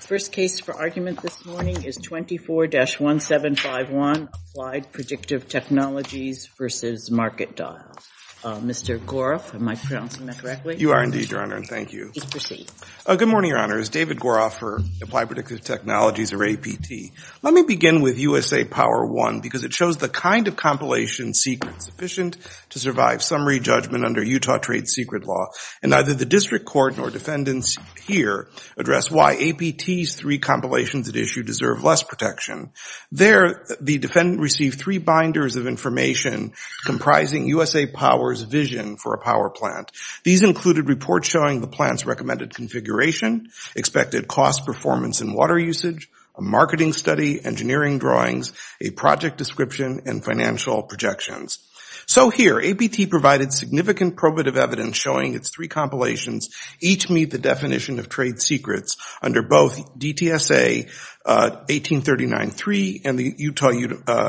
The first case for argument this morning is 24-1751, Applied Predictive Technologies v. MarketDial. Mr. Goroff, am I pronouncing that correctly? You are indeed, Your Honor, and thank you. Please proceed. Good morning, Your Honor. It's David Goroff for Applied Predictive Technologies, or APT. Let me begin with USA Power I because it shows the kind of compilation secret sufficient to survive summary judgment under Utah trade secret law, and neither the district court nor defendants here address why APT's three compilations at issue deserve less protection. There, the defendant received three binders of information comprising USA Power's vision for a power plant. These included reports showing the plant's recommended configuration, expected cost performance and water usage, a marketing study, engineering drawings, a project description, and financial projections. So here, APT provided significant probative evidence showing its three compilations each meet the definition of trade secrets under both DTSA 1839-3 and the Utah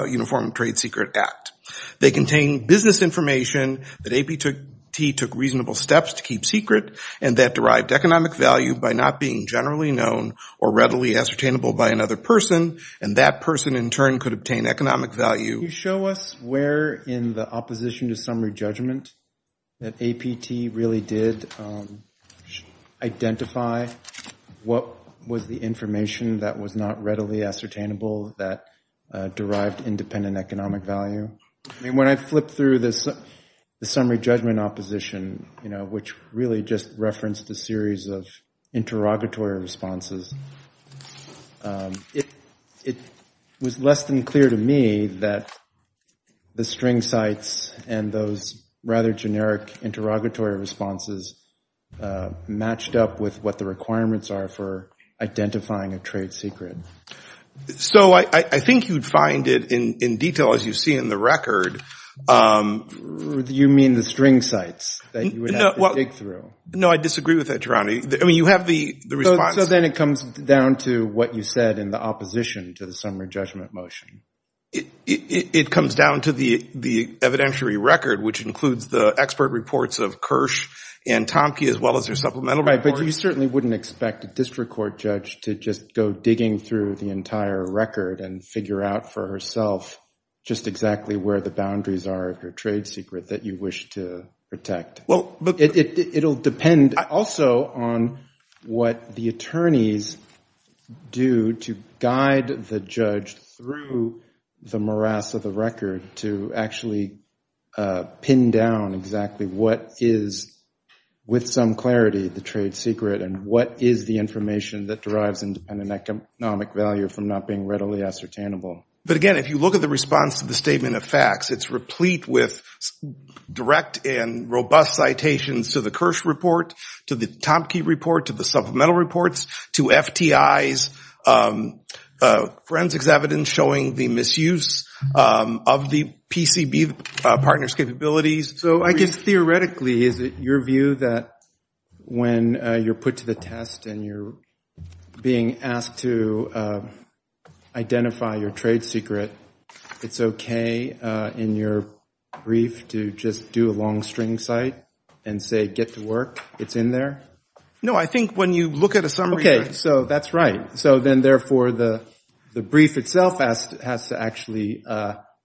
Uniform Trade Secret Act. They contain business information that APT took reasonable steps to keep secret and that derived economic value by not being generally known or readily ascertainable by another person, and that person in turn could obtain economic value. Can you show us where in the opposition to summary judgment that APT really did identify what was the information that was not readily ascertainable that derived independent economic value? I mean, when I flip through the summary judgment opposition, which really just referenced a series of interrogatory responses, it was less than clear to me that the string sites and those rather generic interrogatory responses matched up with what the requirements are for identifying a trade secret. So I think you'd find it in detail, as you see in the record. You mean the string sites that you would have to dig through? No, I disagree with that, Geronimo. I mean, you have the response. So then it comes down to what you said in the opposition to the summary judgment motion. It comes down to the evidentiary record, which includes the expert reports of Kirsch and Tomke as well as their supplemental reports. Right, but you certainly wouldn't expect a district court judge to just go digging through the entire record and figure out for herself just exactly where the boundaries are of your trade secret that you wish to protect. It'll depend also on what the attorneys do to guide the judge through the morass of the record to actually pin down exactly what is, with some clarity, the trade secret and what is the information that derives independent economic value from not being readily ascertainable. But again, if you look at the response to the statement of facts, it's replete with direct and robust citations to the Kirsch report, to the Tomke report, to the supplemental reports, to FTI's forensics evidence showing the misuse of the PCB partner's capabilities. So I guess theoretically, is it your view that when you're put to the test and you're being asked to identify your trade secret, it's okay in your brief to just do a long string cite and say, get to work? It's in there? No, I think when you look at a summary, you're right. Okay, so that's right. So then therefore, the brief itself has to actually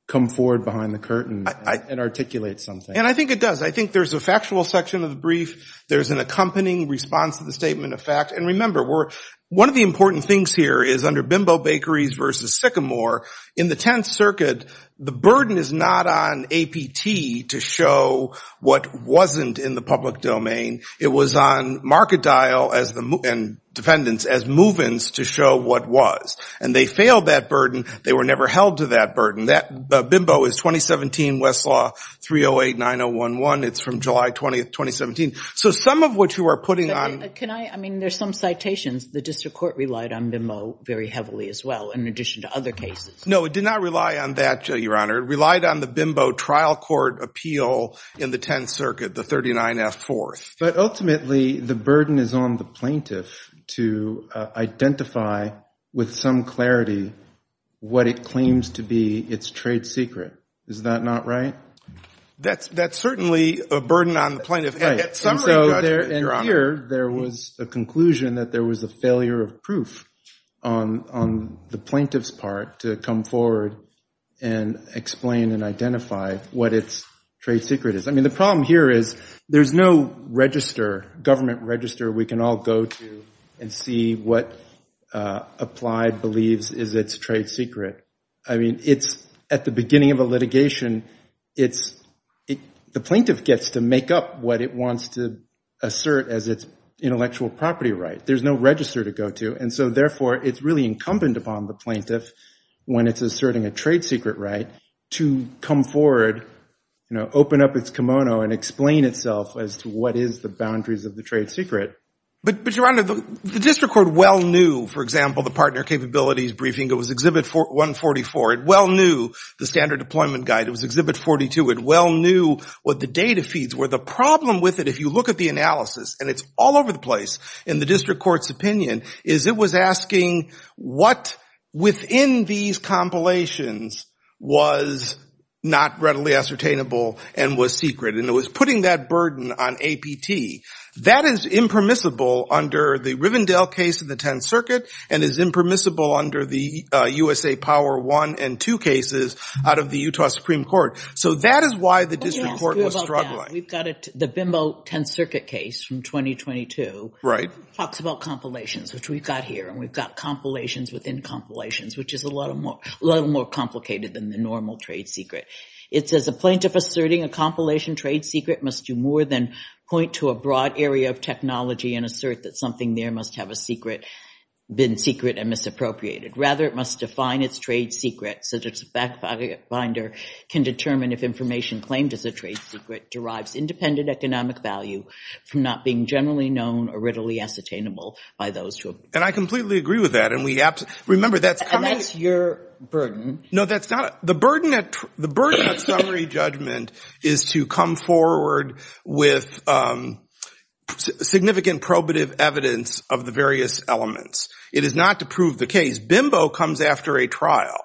come forward behind the curtain and articulate something. And I think it does. I think there's a factual section of the brief. There's an accompanying response to the statement of fact. And remember, one of the important things here is under Bimbo Bakeries versus Sycamore, in the Tenth Circuit, the burden is not on APT to show what wasn't in the public domain. It was on market dial and defendants as move-ins to show what was. And they failed that burden. They were never held to that burden. Bimbo is 2017 Westlaw 308-9011. It's from July 20th, 2017. So some of what you are putting on— Can I—I mean, there's some citations. The district court relied on Bimbo very heavily as well, in addition to other cases. No, it did not rely on that, Your Honor. It relied on the Bimbo trial court appeal in the Tenth Circuit, the 39F-4. But ultimately, the burden is on the plaintiff to identify with some clarity what it claims to be its trade secret. Is that not right? That's certainly a burden on the plaintiff. In summary, Your Honor— And here, there was a conclusion that there was a failure of proof on the plaintiff's part to come forward and explain and identify what its trade secret is. I mean, the problem here is there's no register, government register, we can all go to and see what Applied believes is its trade secret. I mean, it's—at the beginning of a litigation, it's—the plaintiff gets to make up what it wants to assert as its intellectual property right. There's no register to go to, and so therefore, it's really incumbent upon the plaintiff, when it's asserting a trade secret right, to come forward, you know, open up its kimono and explain itself as to what is the boundaries of the trade secret. But Your Honor, the district court well knew, for example, the partner capabilities briefing that was Exhibit 144, it well knew the standard deployment guide, it was Exhibit 42, it well knew what the data feeds were. The problem with it, if you look at the analysis, and it's all over the place in the district court's opinion, is it was asking what within these compilations was not readily ascertainable and was secret. And it was putting that burden on APT. That is impermissible under the Rivendell case in the Tenth Circuit and is impermissible under the USA Power 1 and 2 cases out of the Utah Supreme Court. So that is why the district court was struggling. We've got the bimbo Tenth Circuit case from 2022, talks about compilations, which we've got here, and we've got compilations within compilations, which is a lot more complicated than the normal trade secret. It says a plaintiff asserting a compilation trade secret must do more than point to a broad area of technology and assert that something there must have a secret been secret and misappropriated. Rather, it must define its trade secret so that its backfinder can determine if information claimed as a trade secret derives independent economic value from not being generally known or readily ascertainable by those who— And I completely agree with that. And we—remember, that's coming— And that's your burden. No, that's not—the burden at summary judgment is to come forward with significant probative evidence of the various elements. It is not to prove the case. Bimbo comes after a trial,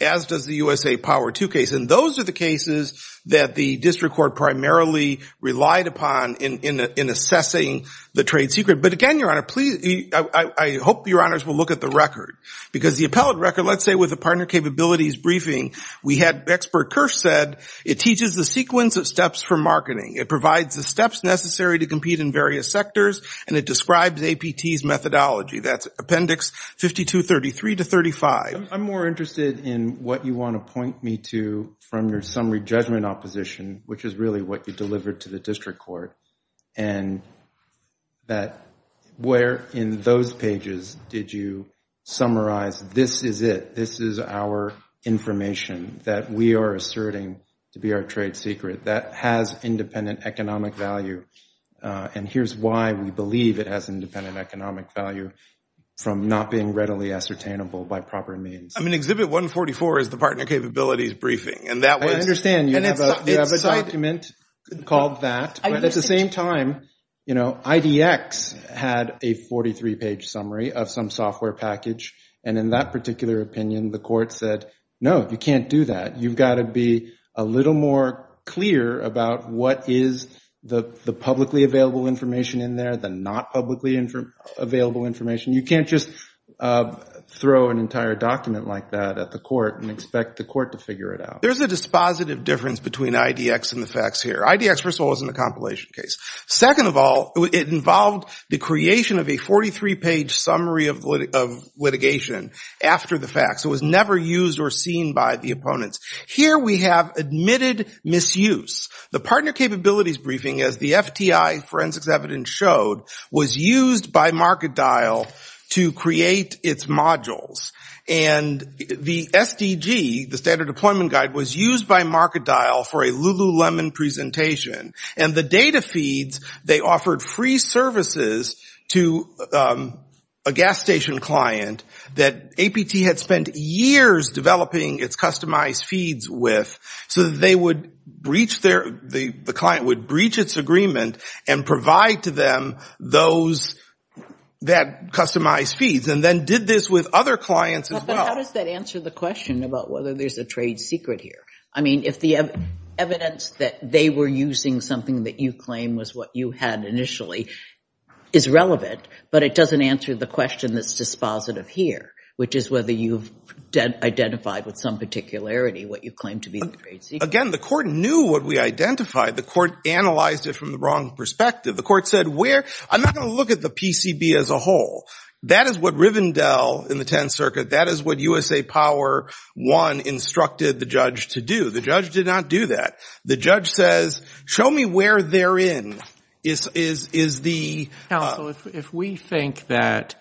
as does the USA Power II case. And those are the cases that the district court primarily relied upon in assessing the trade secret. But again, Your Honor, please—I hope Your Honors will look at the record. Because the appellate record, let's say with the partner capabilities briefing, we had—Expert Kirsch said, it teaches the sequence of steps for marketing. It provides the steps necessary to compete in various sectors, and it describes APT's methodology. That's Appendix 5233 to 35. I'm more interested in what you want to point me to from your summary judgment opposition, which is really what you delivered to the district court, and that where in those pages did you summarize, this is it, this is our information that we are asserting to be our trade secret that has independent economic value, and here's why we believe it has independent economic value from not being readily ascertainable by proper means. I mean, Exhibit 144 is the partner capabilities briefing, and that was— I understand you have a document called that, but at the same time, IDX had a 43-page summary of some software package, and in that particular opinion, the court said, no, you can't do that. You've got to be a little more clear about what is the publicly available information in there, the not publicly available information. You can't just throw an entire document like that at the court and expect the court to figure it out. There's a dispositive difference between IDX and the facts here. IDX, first of all, isn't a compilation case. Second of all, it involved the creation of a 43-page summary of litigation after the facts. It was never used or seen by the opponents. Here we have admitted misuse. The partner capabilities briefing, as the FTI forensics evidence showed, was used by MarketDial to create its modules, and the SDG, the standard deployment guide, was used by MarketDial for a Lululemon presentation, and the data feeds, they offered free services to a gas station client that APT had spent years developing its customized feeds with so that they would breach their, the client would breach its agreement and provide to them those, that customized feeds, and then did this with other clients as well. But how does that answer the question about whether there's a trade secret here? I mean, if the evidence that they were using something that you claim was what you had initially is relevant, but it doesn't answer the question that's dispositive here, which is whether you've identified with some particularity what you claim to be the trade secret. Again, the court knew what we identified. The court analyzed it from the wrong perspective. The court said, where, I'm not going to look at the PCB as a whole. That is what Rivendell in the Tenth Circuit, that is what USA Power One instructed the judge to do. The judge did not do that. The judge says, show me where they're in, is the- If we think that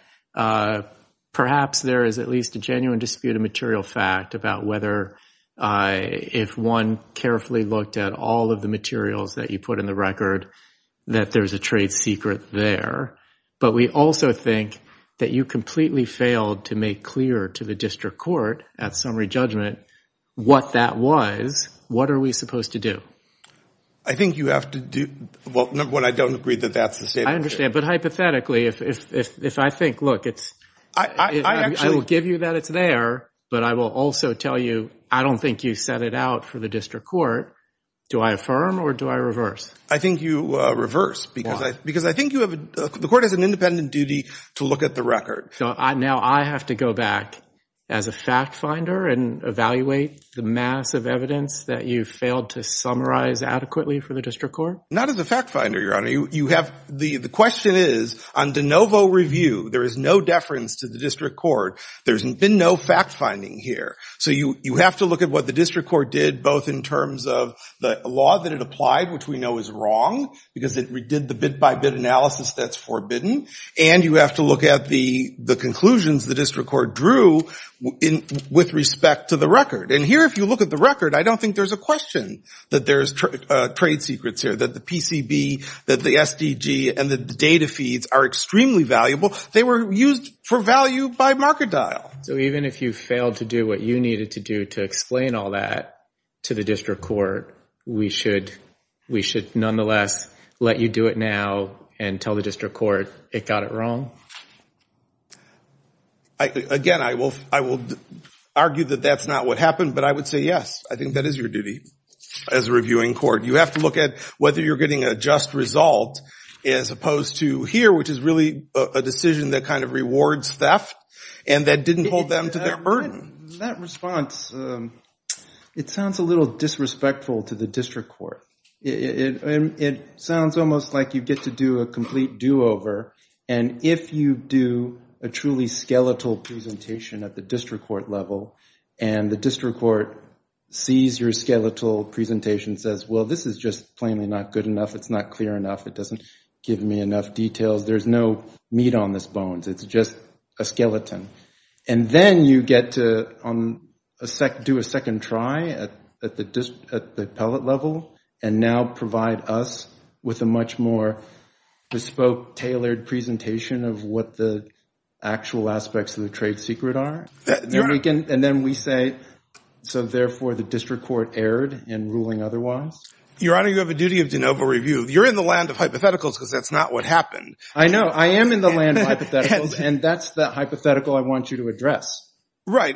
perhaps there is at least a genuine dispute of material fact about whether if one carefully looked at all of the materials that you put in the record, that there's a trade secret there. But we also think that you completely failed to make clear to the district court at summary judgment what that was. What are we supposed to do? I think you have to do, well, number one, I don't agree that that's the state of the So hypothetically, if I think, look, I will give you that it's there, but I will also tell you, I don't think you set it out for the district court. Do I affirm or do I reverse? I think you reverse because I think you have, the court has an independent duty to look at the record. So now I have to go back as a fact finder and evaluate the mass of evidence that you've failed to summarize adequately for the district court? Not as a fact finder, your honor. The question is, on de novo review, there is no deference to the district court. There's been no fact finding here. So you have to look at what the district court did, both in terms of the law that it applied, which we know is wrong, because it redid the bit by bit analysis that's forbidden, and you have to look at the conclusions the district court drew with respect to the record. And here, if you look at the record, I don't think there's a question that there's trade secrets here, that the PCB, that the SDG, and the data feeds are extremely valuable. They were used for value by Markedile. So even if you failed to do what you needed to do to explain all that to the district court, we should nonetheless let you do it now and tell the district court it got it Again, I will argue that that's not what happened, but I would say yes, I think that is your duty as a reviewing court. You have to look at whether you're getting a just result, as opposed to here, which is really a decision that kind of rewards theft and that didn't hold them to their burden. That response, it sounds a little disrespectful to the district court. It sounds almost like you get to do a complete do-over. And if you do a truly skeletal presentation at the district court level, and the district court sees your skeletal presentation, says, well, this is just plainly not good enough. It's not clear enough. It doesn't give me enough details. There's no meat on this bones. It's just a skeleton. And then you get to do a second try at the appellate level, and now provide us with a much more bespoke, tailored presentation of what the actual aspects of the trade secret are. And then we say, so therefore, the district court erred in ruling otherwise. Your Honor, you have a duty of de novo review. You're in the land of hypotheticals, because that's not what happened. I know. I am in the land of hypotheticals, and that's the hypothetical I want you to address. Right.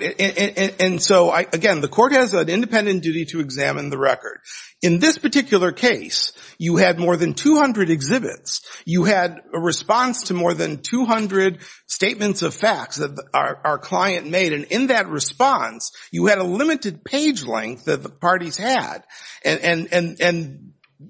And so, again, the court has an independent duty to examine the record. In this particular case, you had more than 200 exhibits. You had a response to more than 200 statements of facts that our client made, and in that response, you had a limited page length that the parties had, and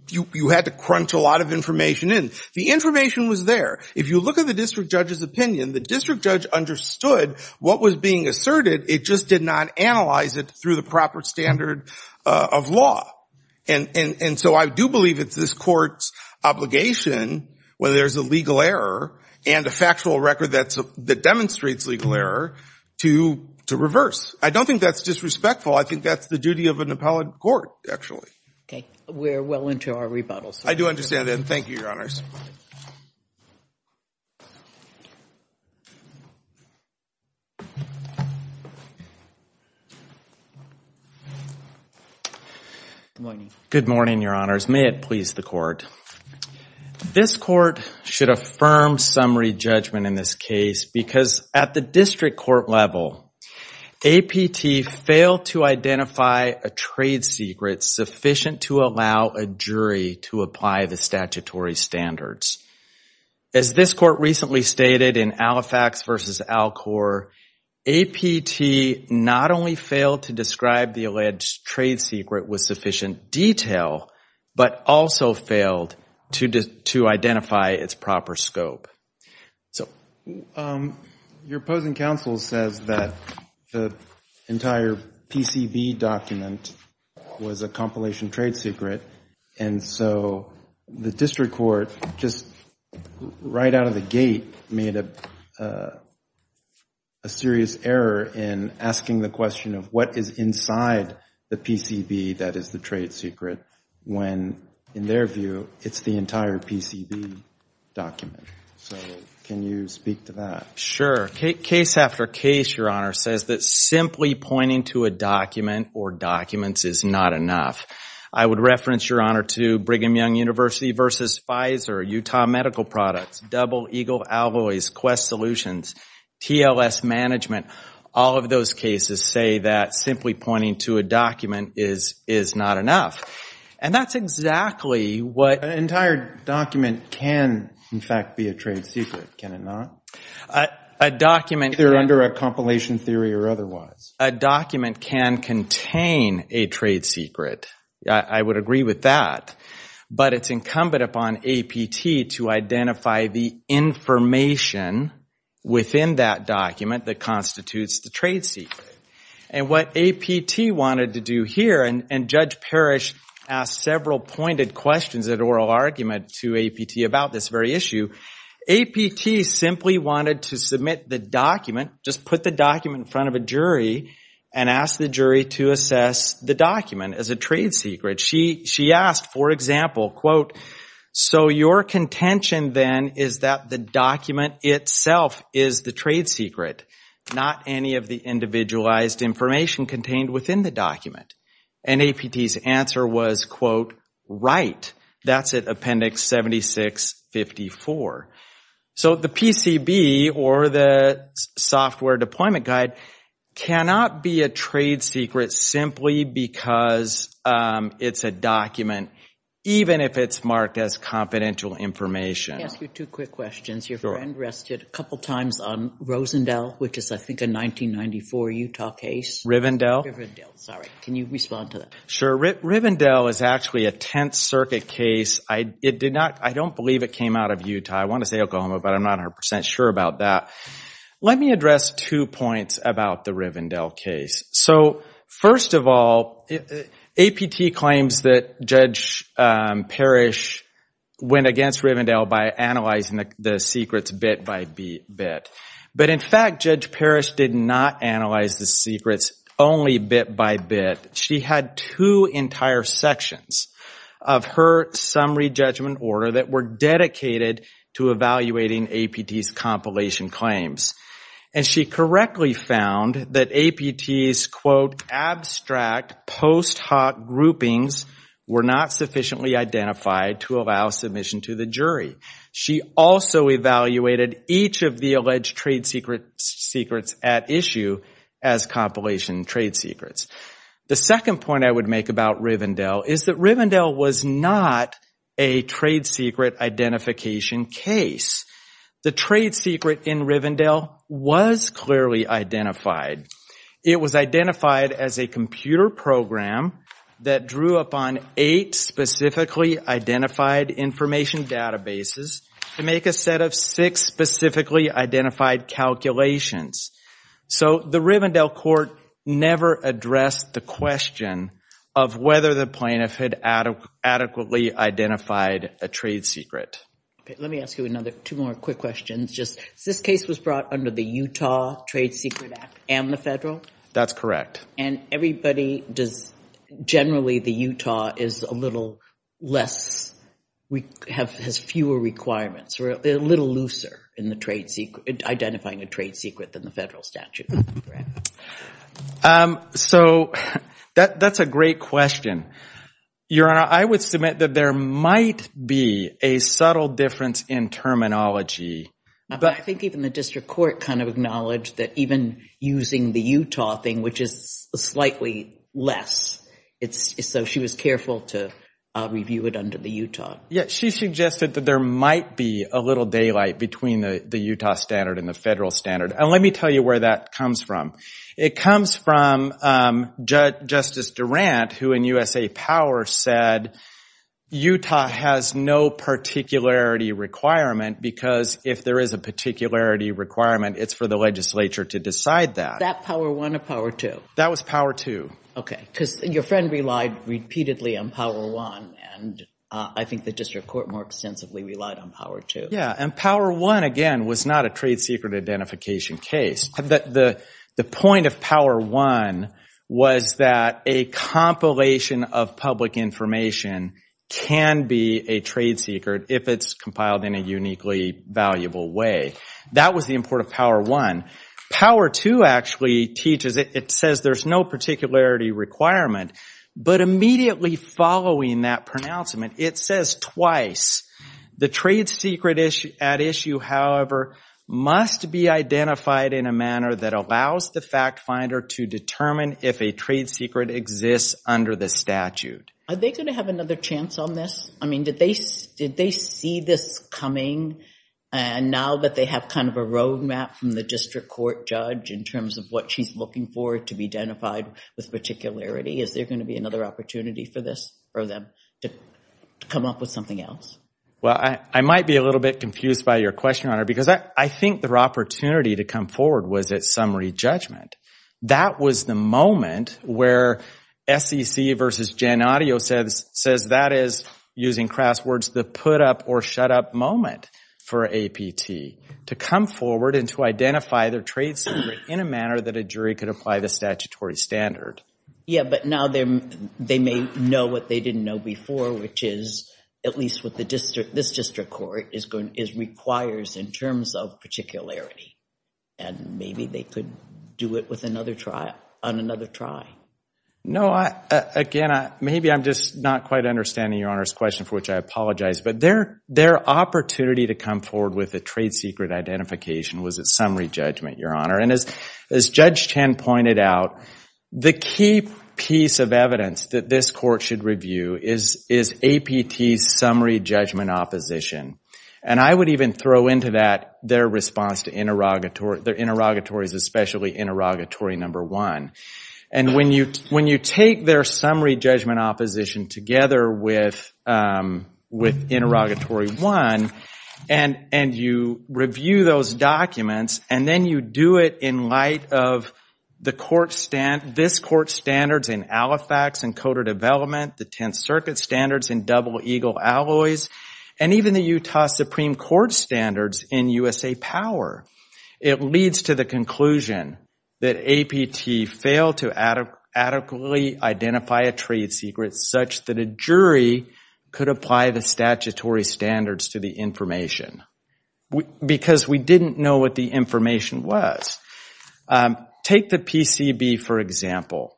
you had to crunch a lot of information in. The information was there. If you look at the district judge's opinion, the district judge understood what was being asserted. It just did not analyze it through the proper standard of law. And so I do believe it's this court's obligation, where there's a legal error and a factual record that demonstrates legal error, to reverse. I don't think that's disrespectful. I think that's the duty of an appellate court, actually. Okay. We're well into our rebuttals. I do understand that. Thank you, Your Honors. Good morning, Your Honors. May it please the court. This court should affirm summary judgment in this case, because at the district court level, APT failed to identify a trade secret sufficient to allow a jury to apply the statutory standards. As this court recently stated in Alifax v. Alcor, APT not only failed to describe the judge's trade secret with sufficient detail, but also failed to identify its proper scope. Your opposing counsel says that the entire PCV document was a compilation trade secret, and so the district court, just right out of the gate, made a serious error in asking the question of what is inside the PCV that is the trade secret, when, in their view, it's the entire PCV document. So, can you speak to that? Sure. Case after case, Your Honor, says that simply pointing to a document or documents is not enough. I would reference, Your Honor, to Brigham Young University v. Pfizer, Utah Medical Products, Double Eagle Alloys, Quest Solutions, TLS Management, all of those cases say that simply pointing to a document is not enough. And that's exactly what- An entire document can, in fact, be a trade secret, can it not? A document- Either under a compilation theory or otherwise. A document can contain a trade secret, I would agree with that. But it's incumbent upon APT to identify the information within that document that constitutes the trade secret. And what APT wanted to do here, and Judge Parrish asked several pointed questions at oral argument to APT about this very issue, APT simply wanted to submit the document, just put the document in front of a jury, and ask the jury to assess the document as a trade secret. She asked, for example, quote, so your contention then is that the document itself is the trade secret, not any of the individualized information contained within the document. And APT's answer was, quote, right. That's at Appendix 7654. So the PCB, or the Software Deployment Guide, cannot be a trade secret simply because it's a document, even if it's marked as confidential information. Let me ask you two quick questions. Your friend rested a couple times on Rosendale, which is, I think, a 1994 Utah case. Rivendale? Rivendale, sorry. Can you respond to that? Sure. Rivendale is actually a Tenth Circuit case. I don't believe it came out of Utah. I want to say Oklahoma, but I'm not 100% sure about that. Let me address two points about the Rivendale case. So first of all, APT claims that Judge Parrish went against Rivendale by analyzing the secrets bit by bit. But in fact, Judge Parrish did not analyze the secrets only bit by bit. She had two entire sections of her summary judgment order that were dedicated to evaluating APT's compilation claims. And she correctly found that APT's, quote, abstract post hoc groupings were not sufficiently identified to allow submission to the jury. She also evaluated each of the alleged trade secrets at issue as compilation trade secrets. The second point I would make about Rivendale is that Rivendale was not a trade secret identification case. The trade secret in Rivendale was clearly identified. It was identified as a computer program that drew upon eight specifically identified information databases to make a set of six specifically identified calculations. So the Rivendale court never addressed the question of whether the plaintiff had adequately identified a trade secret. Let me ask you another two more quick questions. This case was brought under the Utah Trade Secret Act and the federal? That's correct. And everybody does, generally the Utah is a little less, has fewer requirements, a little looser in identifying a trade secret than the federal statute. So that's a great question. Your Honor, I would submit that there might be a subtle difference in terminology. But I think even the district court kind of acknowledged that even using the Utah thing, which is slightly less, so she was careful to review it under the Utah. She suggested that there might be a little daylight between the Utah standard and the federal standard. And let me tell you where that comes from. It comes from Justice Durant, who in USA Power said Utah has no particularity requirement because if there is a particularity requirement, it's for the legislature to decide that. That power one or power two? That was power two. Okay. Because your friend relied repeatedly on power one and I think the district court more extensively relied on power two. And power one, again, was not a trade secret identification case. The point of power one was that a compilation of public information can be a trade secret if it's compiled in a uniquely valuable way. That was the import of power one. Power two actually teaches it. It says there's no particularity requirement. But immediately following that pronouncement, it says twice, the trade secret at issue, however, must be identified in a manner that allows the fact finder to determine if a trade secret exists under the statute. Are they going to have another chance on this? I mean, did they see this coming and now that they have kind of a roadmap from the district court judge in terms of what she's looking for to be identified with particularity, is there going to be another opportunity for them to come up with something else? Well, I might be a little bit confused by your question, Honor, because I think their opportunity to come forward was at summary judgment. That was the moment where SEC versus Gen Audio says that is, using crass words, the put up or shut up moment for APT to come forward and to identify their trade secret in a manner that a jury could apply the statutory standard. Yeah, but now they may know what they didn't know before, which is at least what this district court requires in terms of particularity, and maybe they could do it on another try. No, again, maybe I'm just not quite understanding your Honor's question, for which I apologize, but their opportunity to come forward with a trade secret identification was at summary judgment, your Honor. And as Judge Chen pointed out, the key piece of evidence that this court should review is APT's summary judgment opposition. And I would even throw into that their response to interrogatories, especially interrogatory number one. And when you take their summary judgment opposition together with interrogatory one, and you review those documents, and then you do it in light of this court's standards in Halifax and Coder Development, the Tenth Circuit standards in Double Eagle Alloys, and even the Utah Supreme Court standards in USA Power, it leads to the conclusion that APT failed to adequately identify a trade secret such that a jury could apply the statutory standards to the information, because we didn't know what the information was. Take the PCB, for example.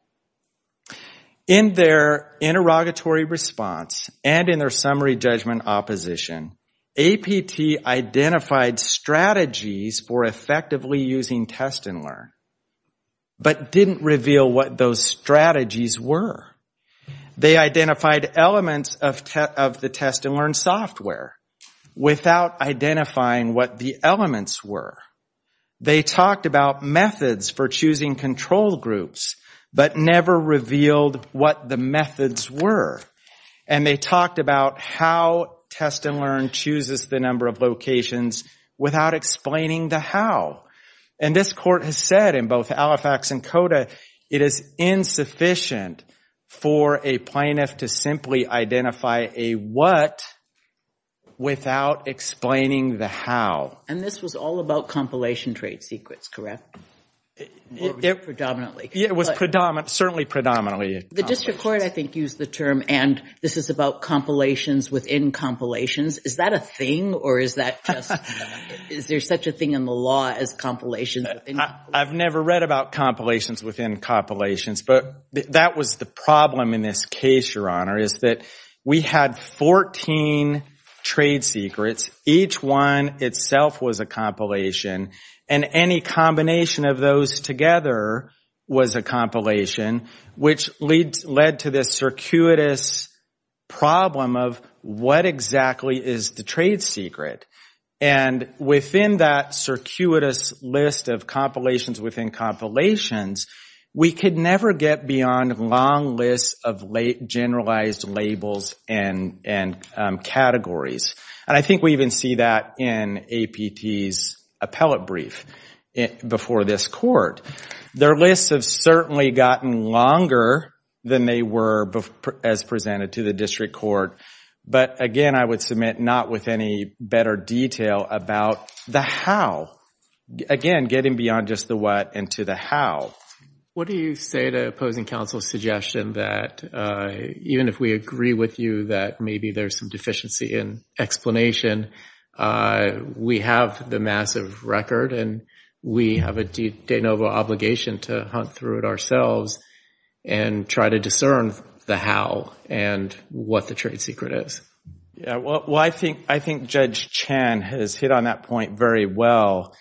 In their interrogatory response and in their summary judgment opposition, APT identified strategies for effectively using Test and Learn, but didn't reveal what those strategies were. They identified elements of the Test and Learn software without identifying what the elements were. They talked about methods for choosing control groups, but never revealed what the methods were. And they talked about how Test and Learn chooses the number of locations without explaining the how. And this court has said in both Halifax and Coder, it is insufficient for a plaintiff to simply identify a what without explaining the how. And this was all about compilation trade secrets, correct? They're predominantly. It was certainly predominantly. The district court, I think, used the term, and this is about compilations within compilations. Is that a thing? Or is there such a thing in the law as compilations within compilations? I've never read about compilations within compilations. But that was the problem in this case, Your Honor, is that we had 14 trade secrets. Each one itself was a compilation, and any combination of those together was a compilation, which led to this circuitous problem of what exactly is the trade secret? And within that circuitous list of compilations within compilations, we could never get beyond long lists of generalized labels and categories. And I think we even see that in APT's appellate brief before this court. Their lists have certainly gotten longer than they were as presented to the district court. But again, I would submit, not with any better detail about the how, again, getting beyond just the what into the how. What do you say to opposing counsel's suggestion that even if we agree with you that maybe there's some deficiency in explanation, we have the massive record and we have a de novo obligation to hunt through it ourselves and try to discern the how and what the trade secret is? Yeah. Well, I think Judge Chan has hit on that point very well.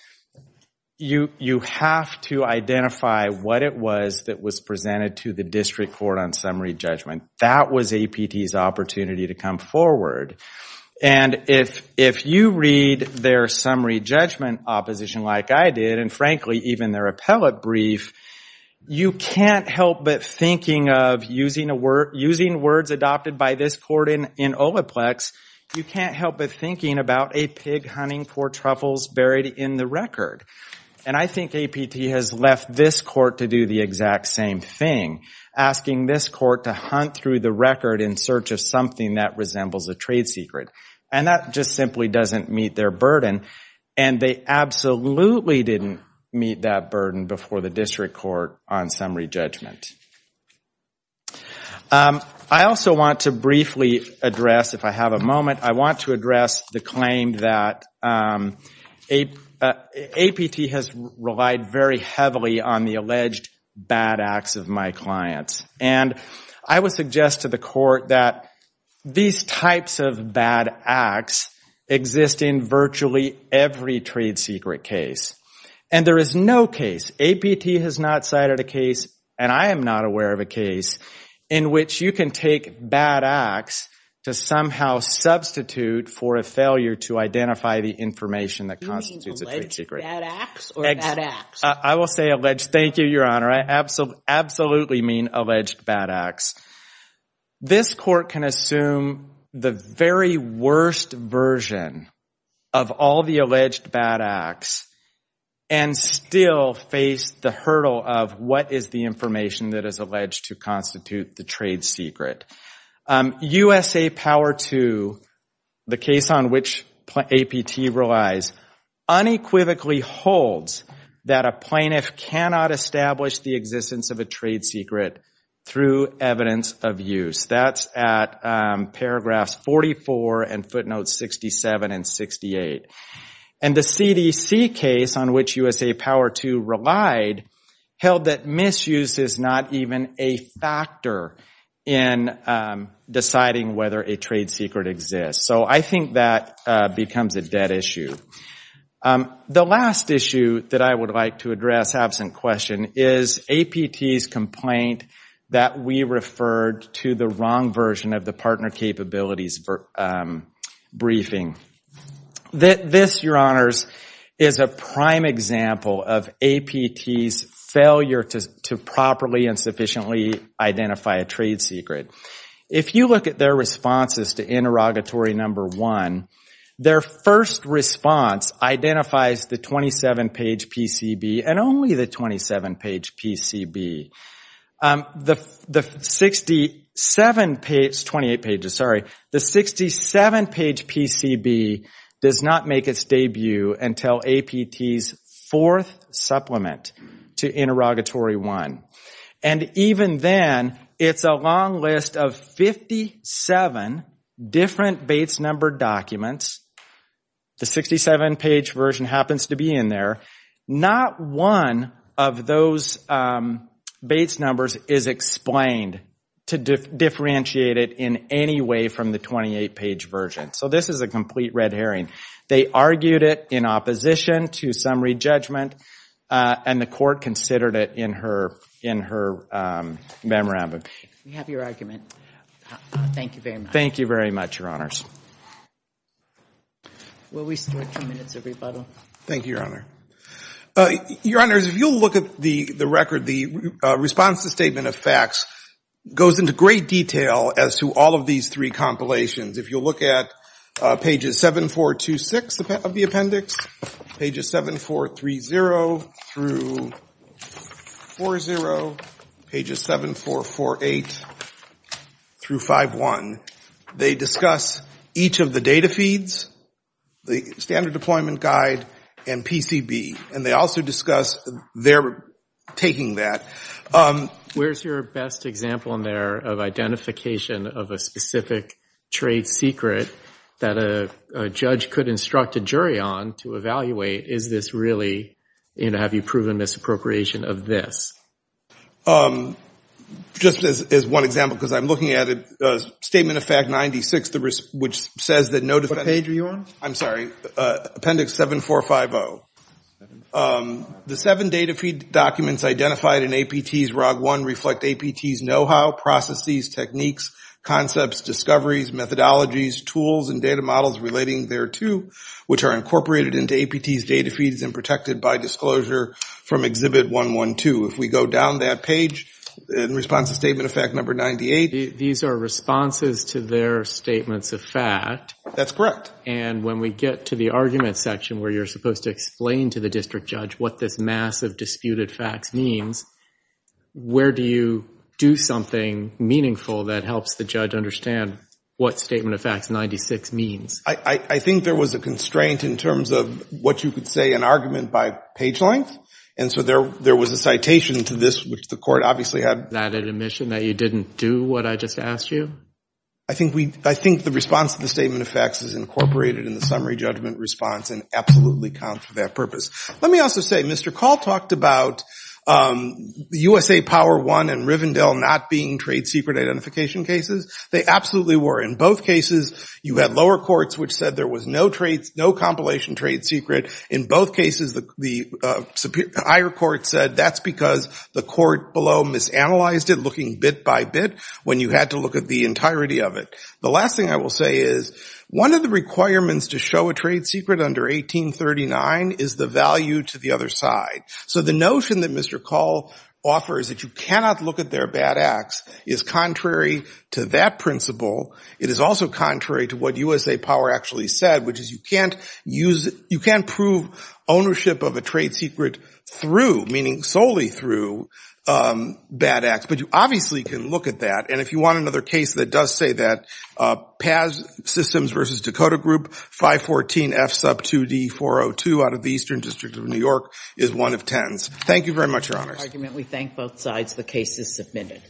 You have to identify what it was that was presented to the district court on summary judgment. That was APT's opportunity to come forward. And if you read their summary judgment opposition like I did, and frankly, even their appellate brief, you can't help but thinking of using words adopted by this court in Olaplex. You can't help but thinking about a pig hunting for truffles buried in the record. And I think APT has left this court to do the exact same thing, asking this court to hunt through the record in search of something that resembles a trade secret. And that just simply doesn't meet their burden. And they absolutely didn't meet that burden before the district court on summary judgment. I also want to briefly address, if I have a moment, I want to address the claim that APT has relied very heavily on the alleged bad acts of my clients. And I would suggest to the court that these types of bad acts exist in virtually every trade secret case. And there is no case, APT has not cited a case, and I am not aware of a case, in which you can take bad acts to somehow substitute for a failure to identify the information that constitutes a trade secret. You mean alleged bad acts or bad acts? I will say alleged. Thank you, Your Honor. I absolutely mean alleged bad acts. This court can assume the very worst version of all the alleged bad acts and still face the hurdle of what is the information that is alleged to constitute the trade secret. USA Power II, the case on which APT relies, unequivocally holds that a plaintiff cannot establish the existence of a trade secret through evidence of use. That's at paragraphs 44 and footnotes 67 and 68. And the CDC case, on which USA Power II relied, held that misuse is not even a factor in deciding whether a trade secret exists. So I think that becomes a dead issue. The last issue that I would like to address, absent question, is APT's complaint that we referred to the wrong version of the partner capabilities briefing. This, Your Honors, is a prime example of APT's failure to properly and sufficiently identify a trade secret. If you look at their responses to interrogatory number one, their first response identifies the 27-page PCB and only the 27-page PCB. The 67-page, 28 pages, sorry, the 67-page PCB does not make its debut until APT's fourth supplement to interrogatory one. And even then, it's a long list of 57 different Bates-numbered documents. The 67-page version happens to be in there. Not one of those Bates numbers is explained to differentiate it in any way from the 28-page version. So this is a complete red herring. They argued it in opposition to summary judgment. And the court considered it in her memorandum. We have your argument. Thank you very much. Thank you very much, Your Honors. Will we start two minutes of rebuttal? Thank you, Your Honor. Your Honors, if you'll look at the record, the response to the statement of facts goes into great detail as to all of these three compilations. If you'll look at pages 7, 4, 2, 6 of the appendix, pages 7, 4, 3, 0 through 4, 0, pages 7, 4, 4, 8 through 5, 1, they discuss each of the data feeds, the standard deployment guide, and PCB. And they also discuss their taking that. Where's your best example in there of identification of a specific trade secret that a judge could instruct a jury on to evaluate? Is this really, have you proven misappropriation of this? Just as one example, because I'm looking at it, Statement of Fact 96, which says that no defense... What page are you on? I'm sorry. Appendix 7, 4, 5, 0. The seven data feed documents identified in APT's ROG 1 reflect APT's know-how, processes, techniques, concepts, discoveries, methodologies, tools, and data models relating thereto, which are incorporated into APT's data feeds and protected by disclosure from Exhibit 112. If we go down that page in response to Statement of Fact 98... These are responses to their statements of fact. That's correct. And when we get to the argument section where you're supposed to explain to the district judge what this mass of disputed facts means, where do you do something meaningful that helps the judge understand what Statement of Fact 96 means? I think there was a constraint in terms of what you could say in argument by page length. And so there was a citation to this, which the court obviously had... Is that an admission that you didn't do what I just asked you? I think the response to the Statement of Facts is incorporated in the summary judgment response and absolutely counts for that purpose. Let me also say, Mr. Call talked about USA Power I and Rivendell not being trade secret identification cases. They absolutely were. In both cases, you had lower courts which said there was no compilation trade secret. In both cases, the higher court said that's because the court below misanalyzed it, looking bit by bit, when you had to look at the entirety of it. The last thing I will say is one of the requirements to show a trade secret under 1839 is the value to the other side. So the notion that Mr. Call offers that you cannot look at their bad acts is contrary to that principle. It is also contrary to what USA Power actually said, which is you can't use... You can't prove ownership of a trade secret through, meaning solely through, bad acts. But you obviously can look at that. And if you want another case that does say that, Paz Systems v. Dakota Group, 514 F sub 2D 402 out of the Eastern District of New York is one of tens. Thank you very much, Your Honors.